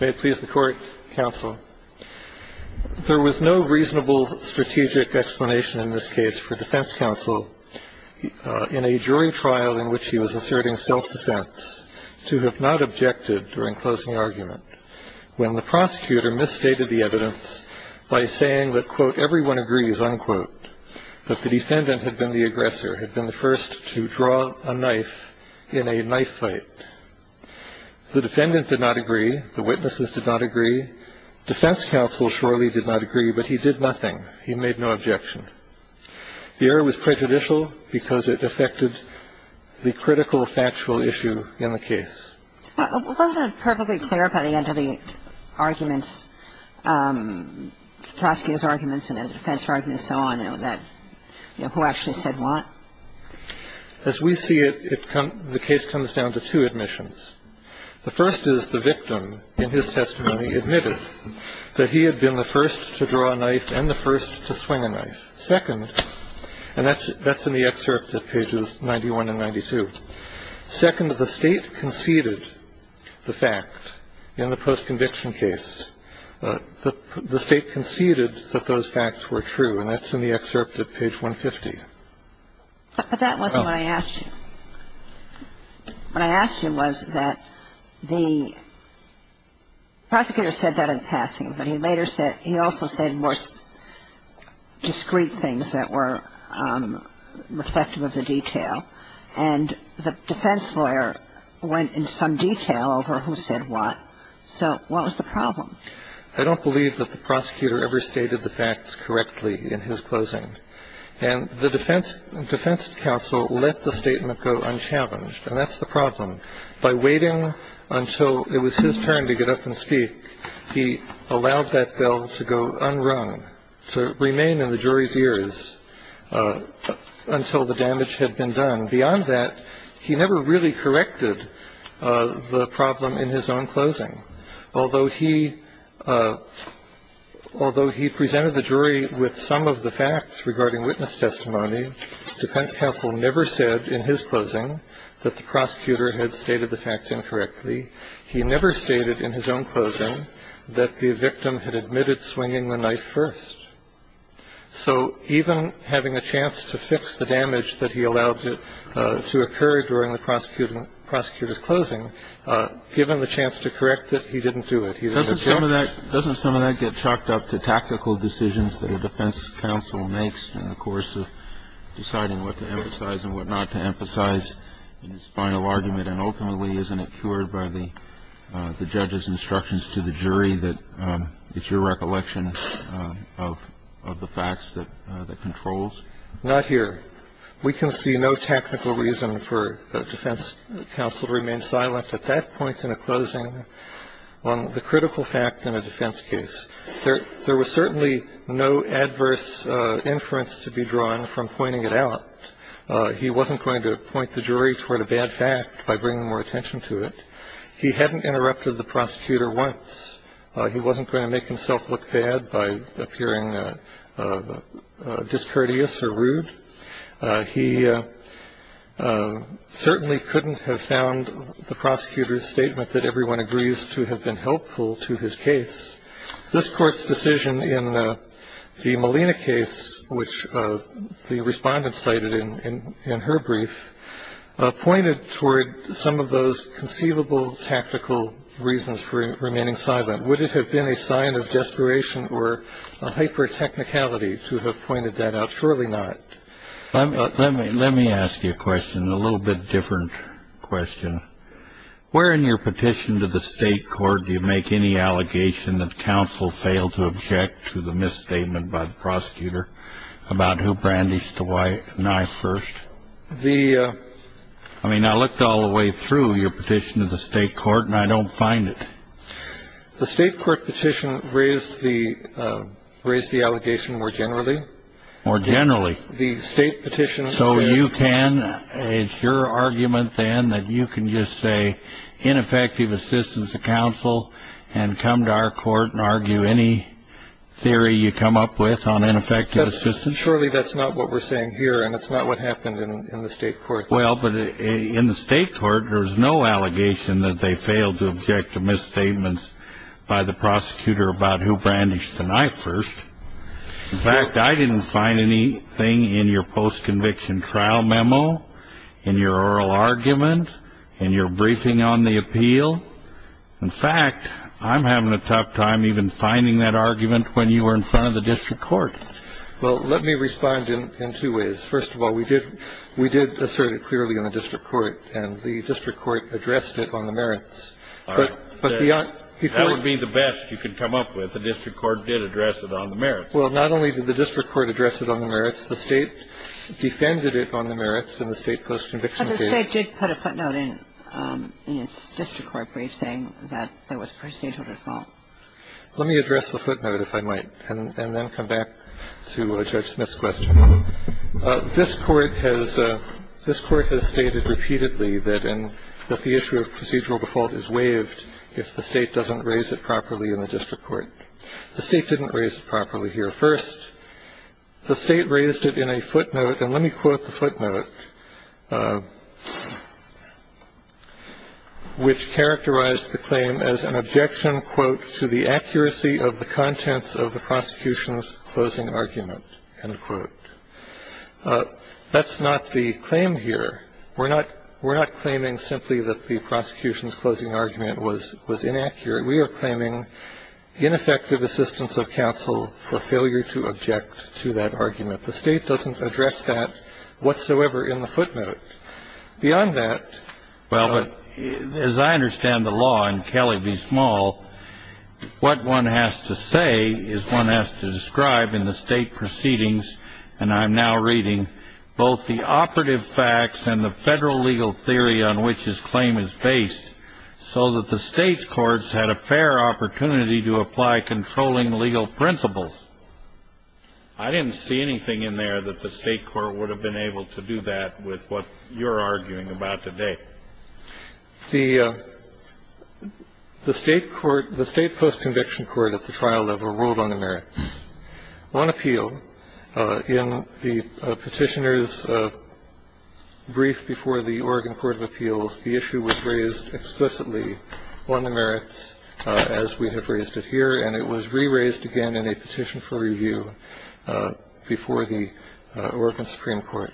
May it please the court, counsel. There was no reasonable strategic explanation in this case for defense counsel in a jury trial in which he was asserting self-defense to have not objected during closing argument when the prosecutor misstated the evidence by saying that, quote, everyone agrees, unquote, that the defendant had been the aggressor, had been the first to draw a knife in a knife fight. The defendant did not agree. The witnesses did not agree. Defense counsel surely did not agree, but he did nothing. He made no objection. The error was prejudicial because it affected the critical factual issue in the case. Wasn't it perfectly clear by the end of the arguments, Trotsky's arguments and the defense argument and so on, that, you know, who actually said what? As we see it, the case comes down to two admissions. The first is the victim in his testimony admitted that he had been the first to draw a knife and the first to swing a knife. Second, and that's in the excerpt at pages 91 and 92. Second, the State conceded the fact in the post-conviction case. The State conceded that those facts were true, and that's in the excerpt at page 150. But that wasn't what I asked you. What I asked you was that the prosecutor said that in passing, but he later said he also said more discreet things that were reflective of the detail, and the defense lawyer went into some detail over who said what. So what was the problem? I don't believe that the prosecutor ever stated the facts correctly in his closing. And the defense counsel let the statement go unchallenged, and that's the problem. By waiting until it was his turn to get up and speak, he allowed that bell to go unrung, to remain in the jury's ears until the damage had been done. Beyond that, he never really corrected the problem in his own closing. Although he presented the jury with some of the facts regarding witness testimony, defense counsel never said in his closing that the prosecutor had stated the facts incorrectly. He never stated in his own closing that the victim had admitted swinging the knife first. So even having a chance to fix the damage that he allowed to occur during the prosecutor's closing, given the chance to correct it, he didn't do it. He let it go. Doesn't some of that get chalked up to tactical decisions that a defense counsel makes in the course of deciding what to emphasize and what not to emphasize in his final argument, and ultimately isn't it cured by the judge's instructions to the jury that it's your recollection of the facts that controls? Not here. We can see no technical reason for defense counsel to remain silent at that point in a closing on the critical fact in a defense case. There was certainly no adverse inference to be drawn from pointing it out. He wasn't going to point the jury toward a bad fact by bringing more attention to it. He hadn't interrupted the prosecutor once. He wasn't going to make himself look bad by appearing discourteous or rude. He certainly couldn't have found the prosecutor's statement that everyone agrees to have been helpful to his case. This Court's decision in the Molina case, which the Respondent cited in her brief, pointed toward some of those conceivable tactical reasons for remaining silent. Would it have been a sign of desperation or hyper-technicality to have pointed that out? Surely not. Let me ask you a question, a little bit different question. Where in your petition to the State Court do you make any allegation that counsel failed to object to the misstatement by the prosecutor about who brandished the knife first? I mean, I looked all the way through your petition to the State Court and I don't find it. The State Court petition raised the allegation more generally. More generally? The State petition. So you can, it's your argument then that you can just say ineffective assistance of counsel and come to our court and argue any theory you come up with on ineffective assistance? Surely that's not what we're saying here and it's not what happened in the State Court. Well, but in the State Court there's no allegation that they failed to object to misstatements by the prosecutor about who brandished the knife first. In fact, I didn't find anything in your post-conviction trial memo, in your oral argument, in your briefing on the appeal. In fact, I'm having a tough time even finding that argument when you were in front of the District Court. Well, let me respond in two ways. First of all, we did assert it clearly in the District Court and the District Court addressed it on the merits. All right. That would be the best you could come up with. The District Court did address it on the merits. Well, not only did the District Court address it on the merits, the State defended it on the merits in the State post-conviction case. But the State did put a footnote in its District Court brief saying that there was procedural default. Let me address the footnote, if I might, and then come back to Judge Smith's question. This Court has stated repeatedly that the issue of procedural default is waived if the State doesn't raise it properly in the District Court. The State didn't raise it properly here. First, the State raised it in a footnote. And let me quote the footnote, which characterized the claim as an objection, quote, to the accuracy of the contents of the prosecution's closing argument, end quote. That's not the claim here. We're not claiming simply that the prosecution's closing argument was inaccurate. We are claiming ineffective assistance of counsel for failure to object to that argument. The State doesn't address that whatsoever in the footnote. Beyond that ---- Well, as I understand the law, and Kelly, be small, what one has to say is one has to describe in the State proceedings, and I'm now reading, both the operative facts and the Federal legal theory on which this claim is based, so that the State's courts had a fair opportunity to apply controlling legal principles. I didn't see anything in there that the State court would have been able to do that with what you're arguing about today. The State post-conviction court at the trial level ruled on the merits. On appeal, in the Petitioner's brief before the Oregon Court of Appeals, the issue was raised explicitly on the merits as we have raised it here, and it was re-raised again in a petition for review before the Oregon Supreme Court.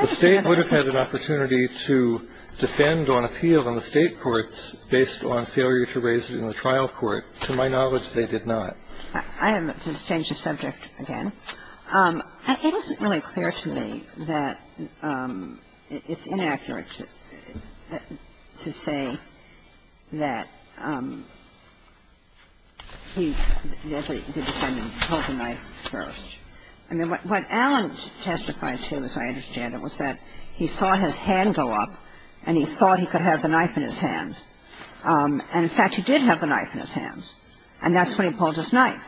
The State would have had an opportunity to defend on appeal in the State courts based on failure to raise it in the trial court. To my knowledge, they did not. I have to change the subject again. It isn't really clear to me that it's inaccurate to say that the defendant pulled the knife first. I mean, what Alan testified to, as I understand it, was that he saw his hand go up, and he thought he could have the knife in his hands. And, in fact, he did have the knife in his hands, and that's when he pulled his knife.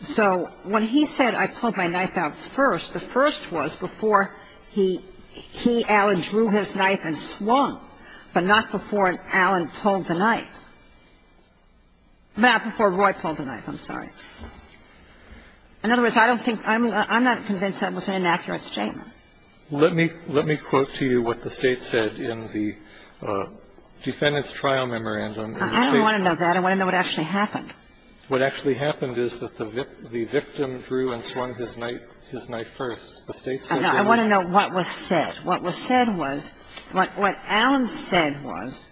So when he said, I pulled my knife out first, the first was before he – he, Alan, drew his knife and swung, but not before Alan pulled the knife. Not before Roy pulled the knife. I'm sorry. In other words, I don't think – I'm not convinced that was an inaccurate statement. Let me quote to you what the State said in the defendant's trial memorandum. I don't want to know that. I want to know what actually happened. What actually happened is that the victim drew and swung his knife first. The State said they were – I want to know what was said. What was said was – what Alan said was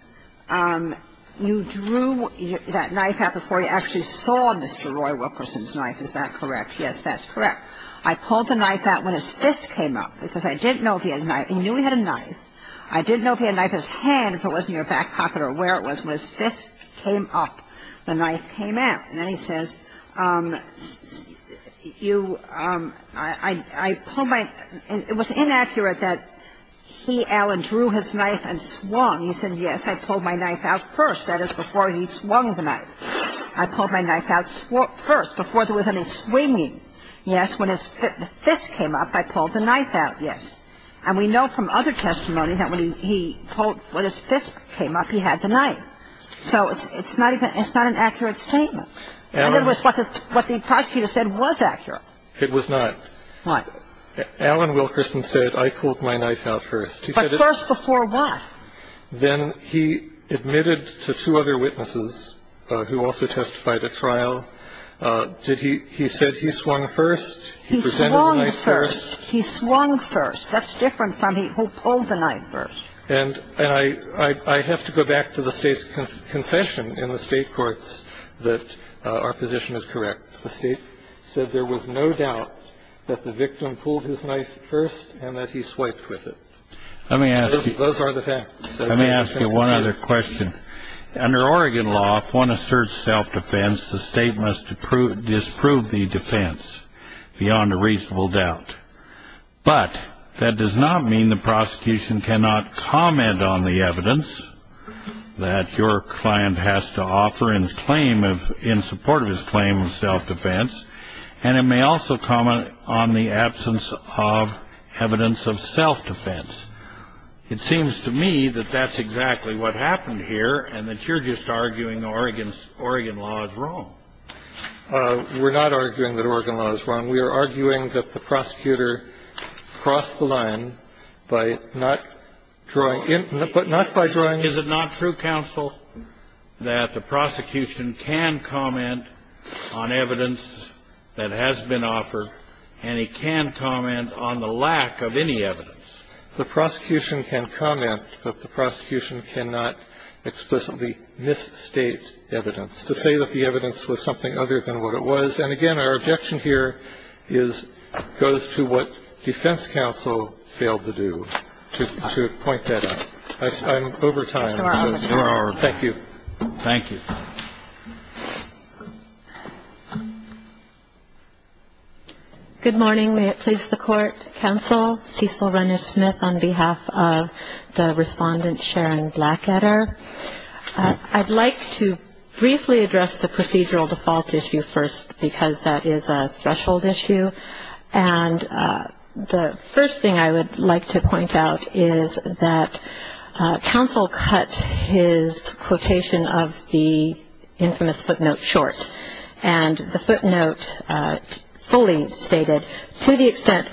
you drew that knife out before you actually saw Mr. Roy Wilkerson's knife. Is that correct? Yes, that's correct. I pulled the knife out when his fist came up, because I didn't know if he had a knife. He knew he had a knife. I didn't know if he had a knife in his hand, if it was in your back pocket or where it was when his fist came up. The knife came out. And then he says, you – I pulled my – it was inaccurate that he, Alan, drew his knife and swung. He said, yes, I pulled my knife out first. That is before he swung the knife. I pulled my knife out first, before there was any swinging. Yes, when his fist came up, I pulled the knife out. Yes. And we know from other testimony that when he pulled – when his fist came up, he had the knife. And so it's not even – it's not an accurate statement. It was what the prosecutor said was accurate. It was not. Why? Alan Wilkerson said, I pulled my knife out first. But first before what? Then he admitted to two other witnesses, who also testified at trial, did he – he said he swung first. He presented the knife first. He swung first. He swung first. That's different from he pulled the knife first. And I have to go back to the State's concession in the State courts that our position is correct. The State said there was no doubt that the victim pulled his knife first and that he swiped with it. Let me ask you – Those are the facts. Let me ask you one other question. Under Oregon law, if one asserts self-defense, the State must disprove the defense beyond a reasonable doubt. But that does not mean the prosecution cannot comment on the evidence that your client has to offer in claim of – in support of his claim of self-defense. And it may also comment on the absence of evidence of self-defense. It seems to me that that's exactly what happened here and that you're just arguing Oregon law is wrong. We're not arguing that Oregon law is wrong. We're arguing that the prosecutor crossed the line by not drawing – but not by drawing Is it not true, counsel, that the prosecution can comment on evidence that has been offered and he can comment on the lack of any evidence? The prosecution can comment, but the prosecution cannot explicitly misstate evidence to say that the evidence was something other than what it was. And, again, our objection here is – goes to what defense counsel failed to do. To point that out. I'm over time. You are over time. Thank you. Thank you. Good morning. May it please the Court. Counsel, Cecil Rennes-Smith on behalf of the Respondent Sharon Blackadder. I'd like to briefly address the procedural default issue first because that is a threshold issue. And the first thing I would like to point out is that counsel cut his quotation of the infamous footnote short. And the footnote fully stated, To the extent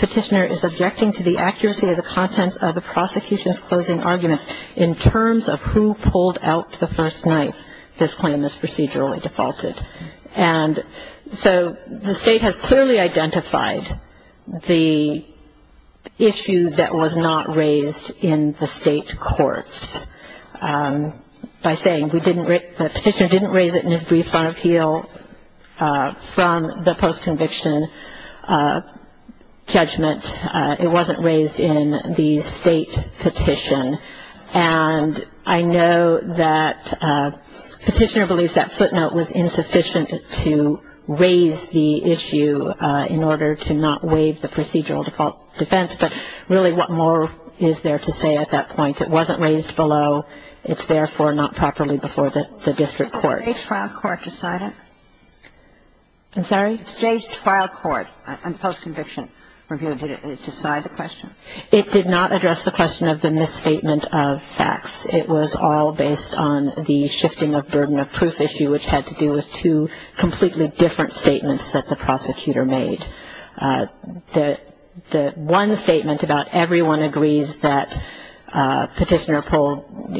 petitioner is objecting to the accuracy of the contents of the prosecution's closing arguments in terms of who pulled out the first night, this claim is procedurally defaulted. And so the State has clearly identified the issue that was not raised in the State courts by saying, The petitioner didn't raise it in his brief son of heel from the post-conviction judgment. It wasn't raised in the State petition. And I know that petitioner believes that footnote was insufficient to raise the issue in order to not waive the procedural default defense. But, really, what more is there to say at that point? It wasn't raised below. It's therefore not properly before the district court. Did the State's trial court decide it? I'm sorry? State's trial court and post-conviction review, did it decide the question? It did not address the question of the misstatement of facts. It was all based on the shifting of burden of proof issue, which had to do with two completely different statements that the prosecutor made. The one statement about everyone agrees that petitioner pulled,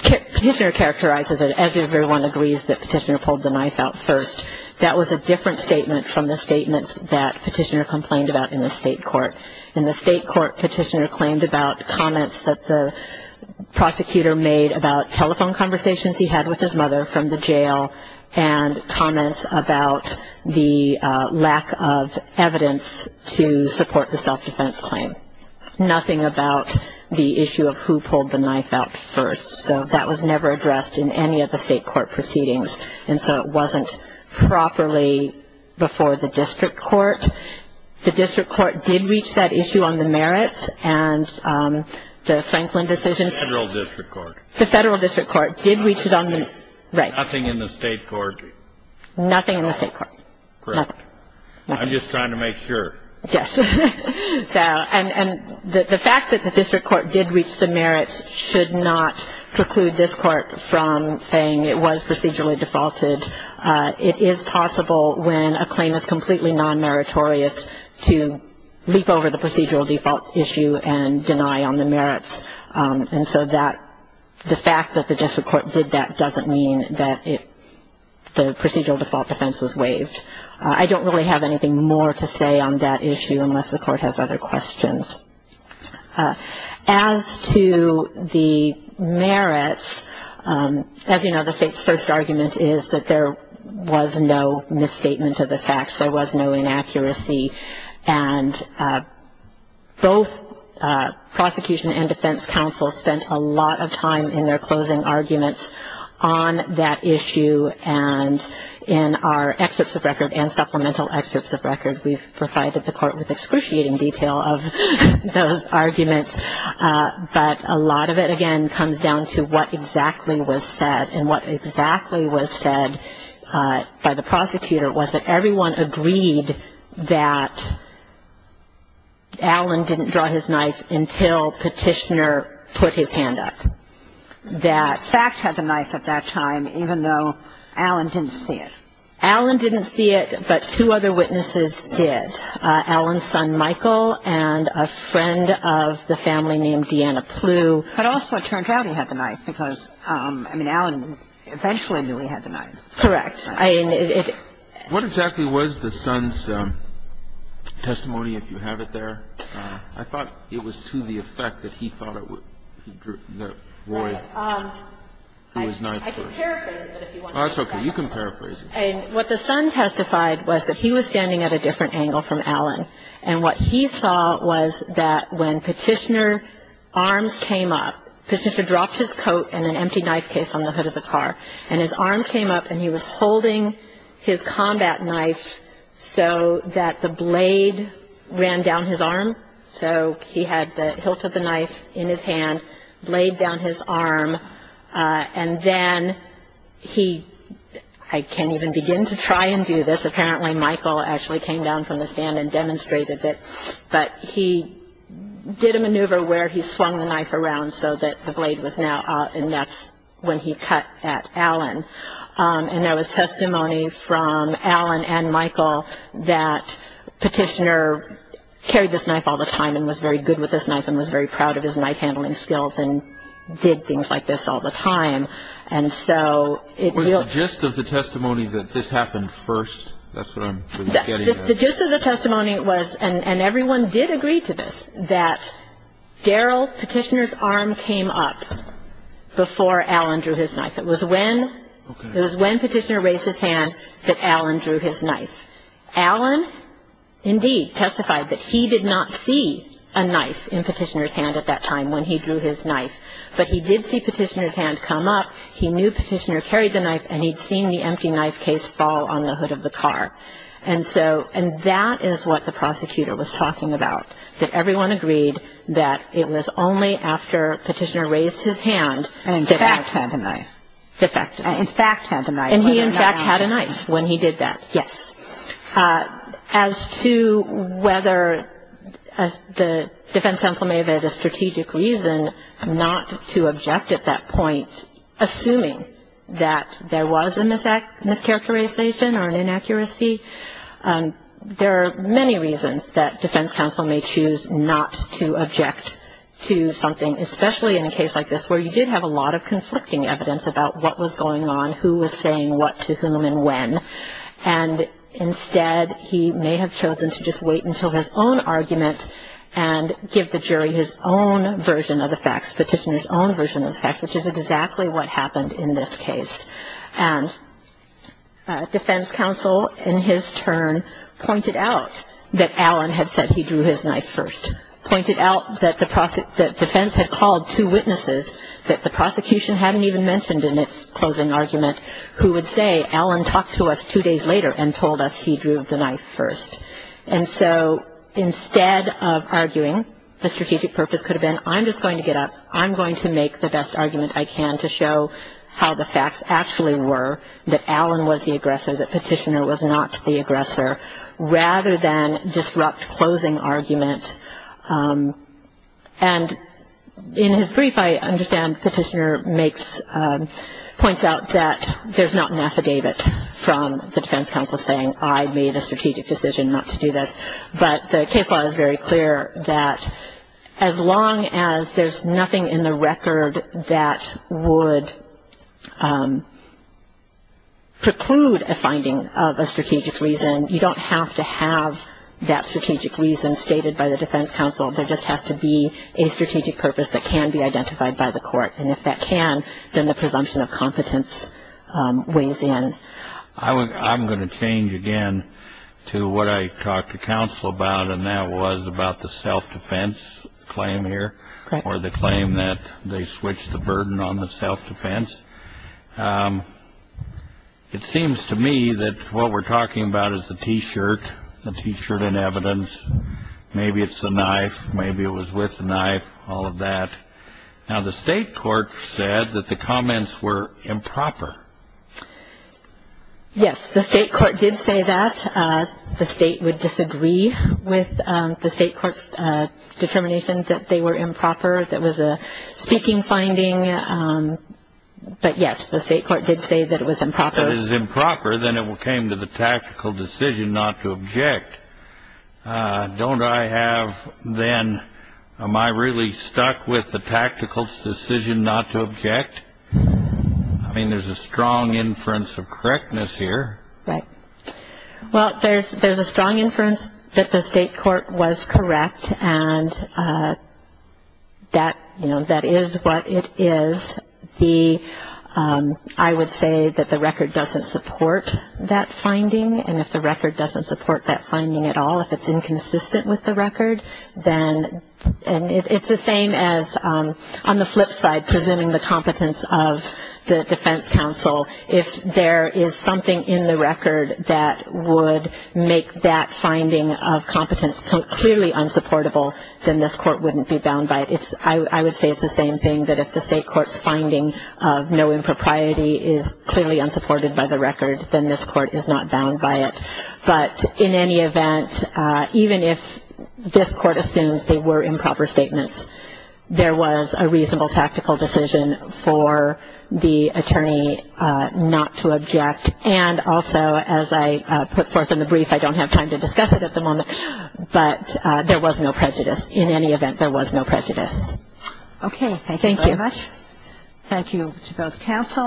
petitioner characterizes it as everyone agrees that petitioner pulled the knife out first. That was a different statement from the statements that petitioner complained about in the State court. In the State court, petitioner claimed about comments that the prosecutor made about telephone conversations he had with his mother from the jail and comments about the lack of evidence to support the self-defense claim. Nothing about the issue of who pulled the knife out first. So that was never addressed in any of the State court proceedings, and so it wasn't properly before the district court. The district court did reach that issue on the merits, and the Franklin decision. The federal district court. The district court did reach it on the merits. Nothing in the State court. Nothing in the State court. Correct. I'm just trying to make sure. Yes. And the fact that the district court did reach the merits should not preclude this court from saying it was procedurally defaulted. It is possible when a claim is completely non-meritorious to leap over the procedural default issue and deny on the merits. And so the fact that the district court did that doesn't mean that the procedural default defense was waived. I don't really have anything more to say on that issue unless the court has other questions. As to the merits, as you know, the State's first argument is that there was no misstatement of the facts. There was no inaccuracy. And both prosecution and defense counsel spent a lot of time in their closing arguments on that issue and in our exits of record and supplemental exits of record. We've provided the court with excruciating detail of those arguments, but a lot of it, again, comes down to what exactly was said. And what exactly was said by the prosecutor was that everyone agreed that Allen didn't draw his knife until Petitioner put his hand up. That Fack had the knife at that time, even though Allen didn't see it. Allen didn't see it, but two other witnesses did. Allen's son, Michael, and a friend of the family named Deanna Plew. But also it turned out he had the knife because, I mean, Allen eventually knew he had the knife. Correct. What exactly was the son's testimony, if you have it there? I thought it was to the effect that he thought it would, that Roy drew his knife first. I can paraphrase it. That's okay. You can paraphrase it. What the son testified was that he was standing at a different angle from Allen, and what he saw was that when Petitioner's arms came up, Petitioner dropped his coat and an empty knife case on the hood of the car, and his arms came up and he was holding his combat knife so that the blade ran down his arm. So he had the hilt of the knife in his hand, blade down his arm, and then he – I can't even begin to try and do this. Apparently Michael actually came down from the stand and demonstrated it. But he did a maneuver where he swung the knife around so that the blade was now – and that's when he cut at Allen. And there was testimony from Allen and Michael that Petitioner carried this knife all the time and was very good with this knife and was very proud of his knife-handling skills and did things like this all the time. Was the gist of the testimony that this happened first? That's what I'm getting at. The gist of the testimony was – and everyone did agree to this – that Daryl Petitioner's arm came up before Allen drew his knife. It was when Petitioner raised his hand that Allen drew his knife. Allen, indeed, testified that he did not see a knife in Petitioner's hand at that time when he drew his knife, but he did see Petitioner's hand come up. He knew Petitioner carried the knife, and he'd seen the empty knife case fall on the hood of the car. And so – and that is what the prosecutor was talking about, that everyone agreed that it was only after Petitioner raised his hand that Allen – And in fact had the knife. In fact. And in fact had the knife. And he in fact had a knife when he did that, yes. As to whether the defense counsel may have had a strategic reason not to object at that point, assuming that there was a mischaracterization or an inaccuracy, there are many reasons that defense counsel may choose not to object to something, especially in a case like this where you did have a lot of conflicting evidence about what was going on, who was saying what to whom and when. And instead he may have chosen to just wait until his own argument and give the jury his own version of the facts, Petitioner's own version of the facts, which is exactly what happened in this case. And defense counsel in his turn pointed out that Allen had said he drew his knife first, pointed out that the defense had called two witnesses that the prosecution hadn't even mentioned in its closing argument who would say Allen talked to us two days later and told us he drew the knife first. And so instead of arguing the strategic purpose could have been I'm just going to get up, I'm going to make the best argument I can to show how the facts actually were, that Allen was the aggressor, that Petitioner was not the aggressor, rather than disrupt closing argument. And in his brief I understand Petitioner makes, points out that there's not an affidavit from the defense counsel saying I made a strategic decision not to do this. But the case law is very clear that as long as there's nothing in the record that would preclude a finding of a strategic reason you don't have to have that strategic reason stated by the defense counsel. There just has to be a strategic purpose that can be identified by the court. And if that can, then the presumption of competence weighs in. I'm going to change again to what I talked to counsel about, and that was about the self-defense claim here or the claim that they switched the burden on the self-defense. It seems to me that what we're talking about is the T-shirt, the T-shirt in evidence. Maybe it's the knife, maybe it was with the knife, all of that. Now the state court said that the comments were improper. Yes, the state court did say that. The state would disagree with the state court's determination that they were improper. That was a speaking finding. But, yes, the state court did say that it was improper. That it was improper, then it came to the tactical decision not to object. Don't I have then, am I really stuck with the tactical decision not to object? I mean, there's a strong inference of correctness here. Right. Well, there's a strong inference that the state court was correct, and that is what it is. I would say that the record doesn't support that finding, and if the record doesn't support that finding at all, if it's inconsistent with the record, then it's the same as on the flip side, presuming the competence of the defense counsel. If there is something in the record that would make that finding of competence clearly unsupportable, then this court wouldn't be bound by it. I would say it's the same thing, that if the state court's finding of no impropriety is clearly unsupported by the record, then this court is not bound by it. But in any event, even if this court assumes they were improper statements, there was a reasonable tactical decision for the attorney not to object. And also, as I put forth in the brief, I don't have time to discuss it at the moment, but there was no prejudice. In any event, there was no prejudice. Okay, thank you very much. Thank you. Thank you to both counsel.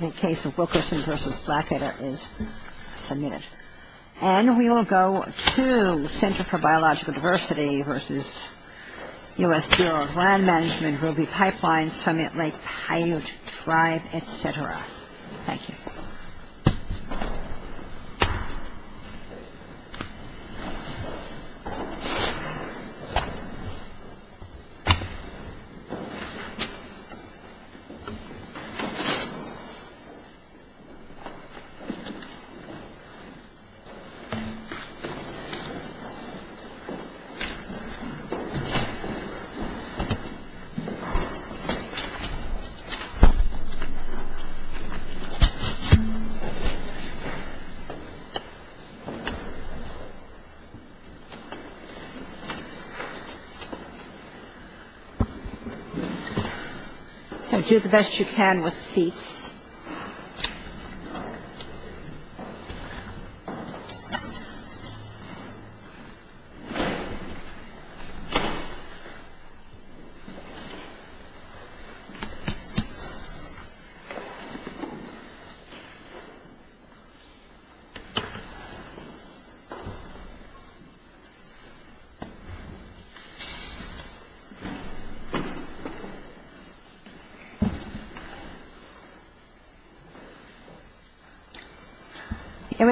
The case of Wilkerson v. Blackett is submitted. And we will go to the Center for Biological Diversity v. U.S. Bureau of Land Management, Ruby Pipelines, Summit Lake Paiute Tribe, et cetera. Thank you. Thank you. Thank you. At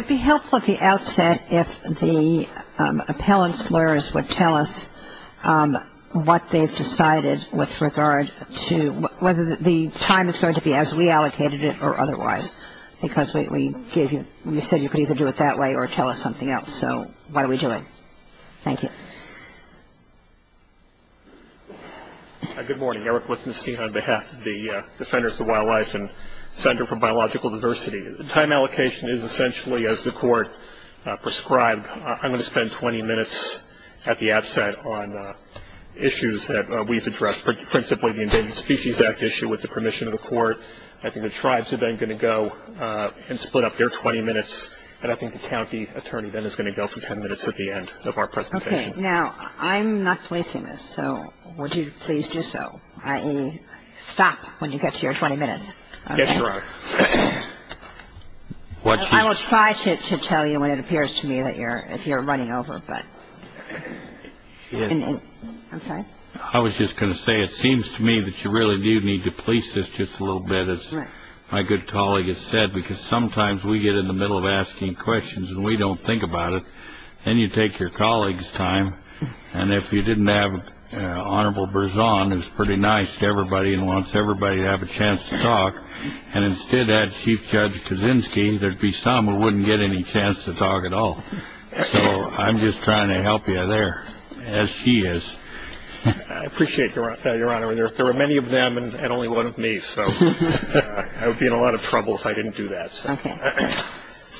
the top of the outset, if the appellant's lawyers would tell us what they've decided with regard to whether the time is going to be as we allocated it or otherwise, because we said you could either do it that way or tell us something else. So why are we doing it? Thank you. Good morning. Eric Lichtenstein on behalf of the Defenders of Wildlife and Center for Biological Diversity. The time allocation is essentially as the Court prescribed. I'm going to spend 20 minutes at the outset on issues that we've addressed, principally the Endangered Species Act issue with the permission of the Court. I think the tribes are then going to go and split up their 20 minutes, and I think the county attorney then is going to go for 10 minutes at the end of our presentation. Okay. Now, I'm not placing this, so would you please do so, i.e., stop when you get to your 20 minutes? Yes, Your Honor. I will try to tell you when it appears to me that you're running over, but I'm sorry? I was just going to say it seems to me that you really do need to police this just a little bit, as my good colleague has said, because sometimes we get in the middle of asking questions and we don't think about it, and you take your colleague's time, and if you didn't have Honorable Berzon, who's pretty nice to everybody and wants everybody to have a chance to talk, and instead had Chief Judge Kaczynski, there'd be some who wouldn't get any chance to talk at all. So I'm just trying to help you there, as he is. I appreciate that, Your Honor. There were many of them and only one of me, so I would be in a lot of trouble if I didn't do that. Okay.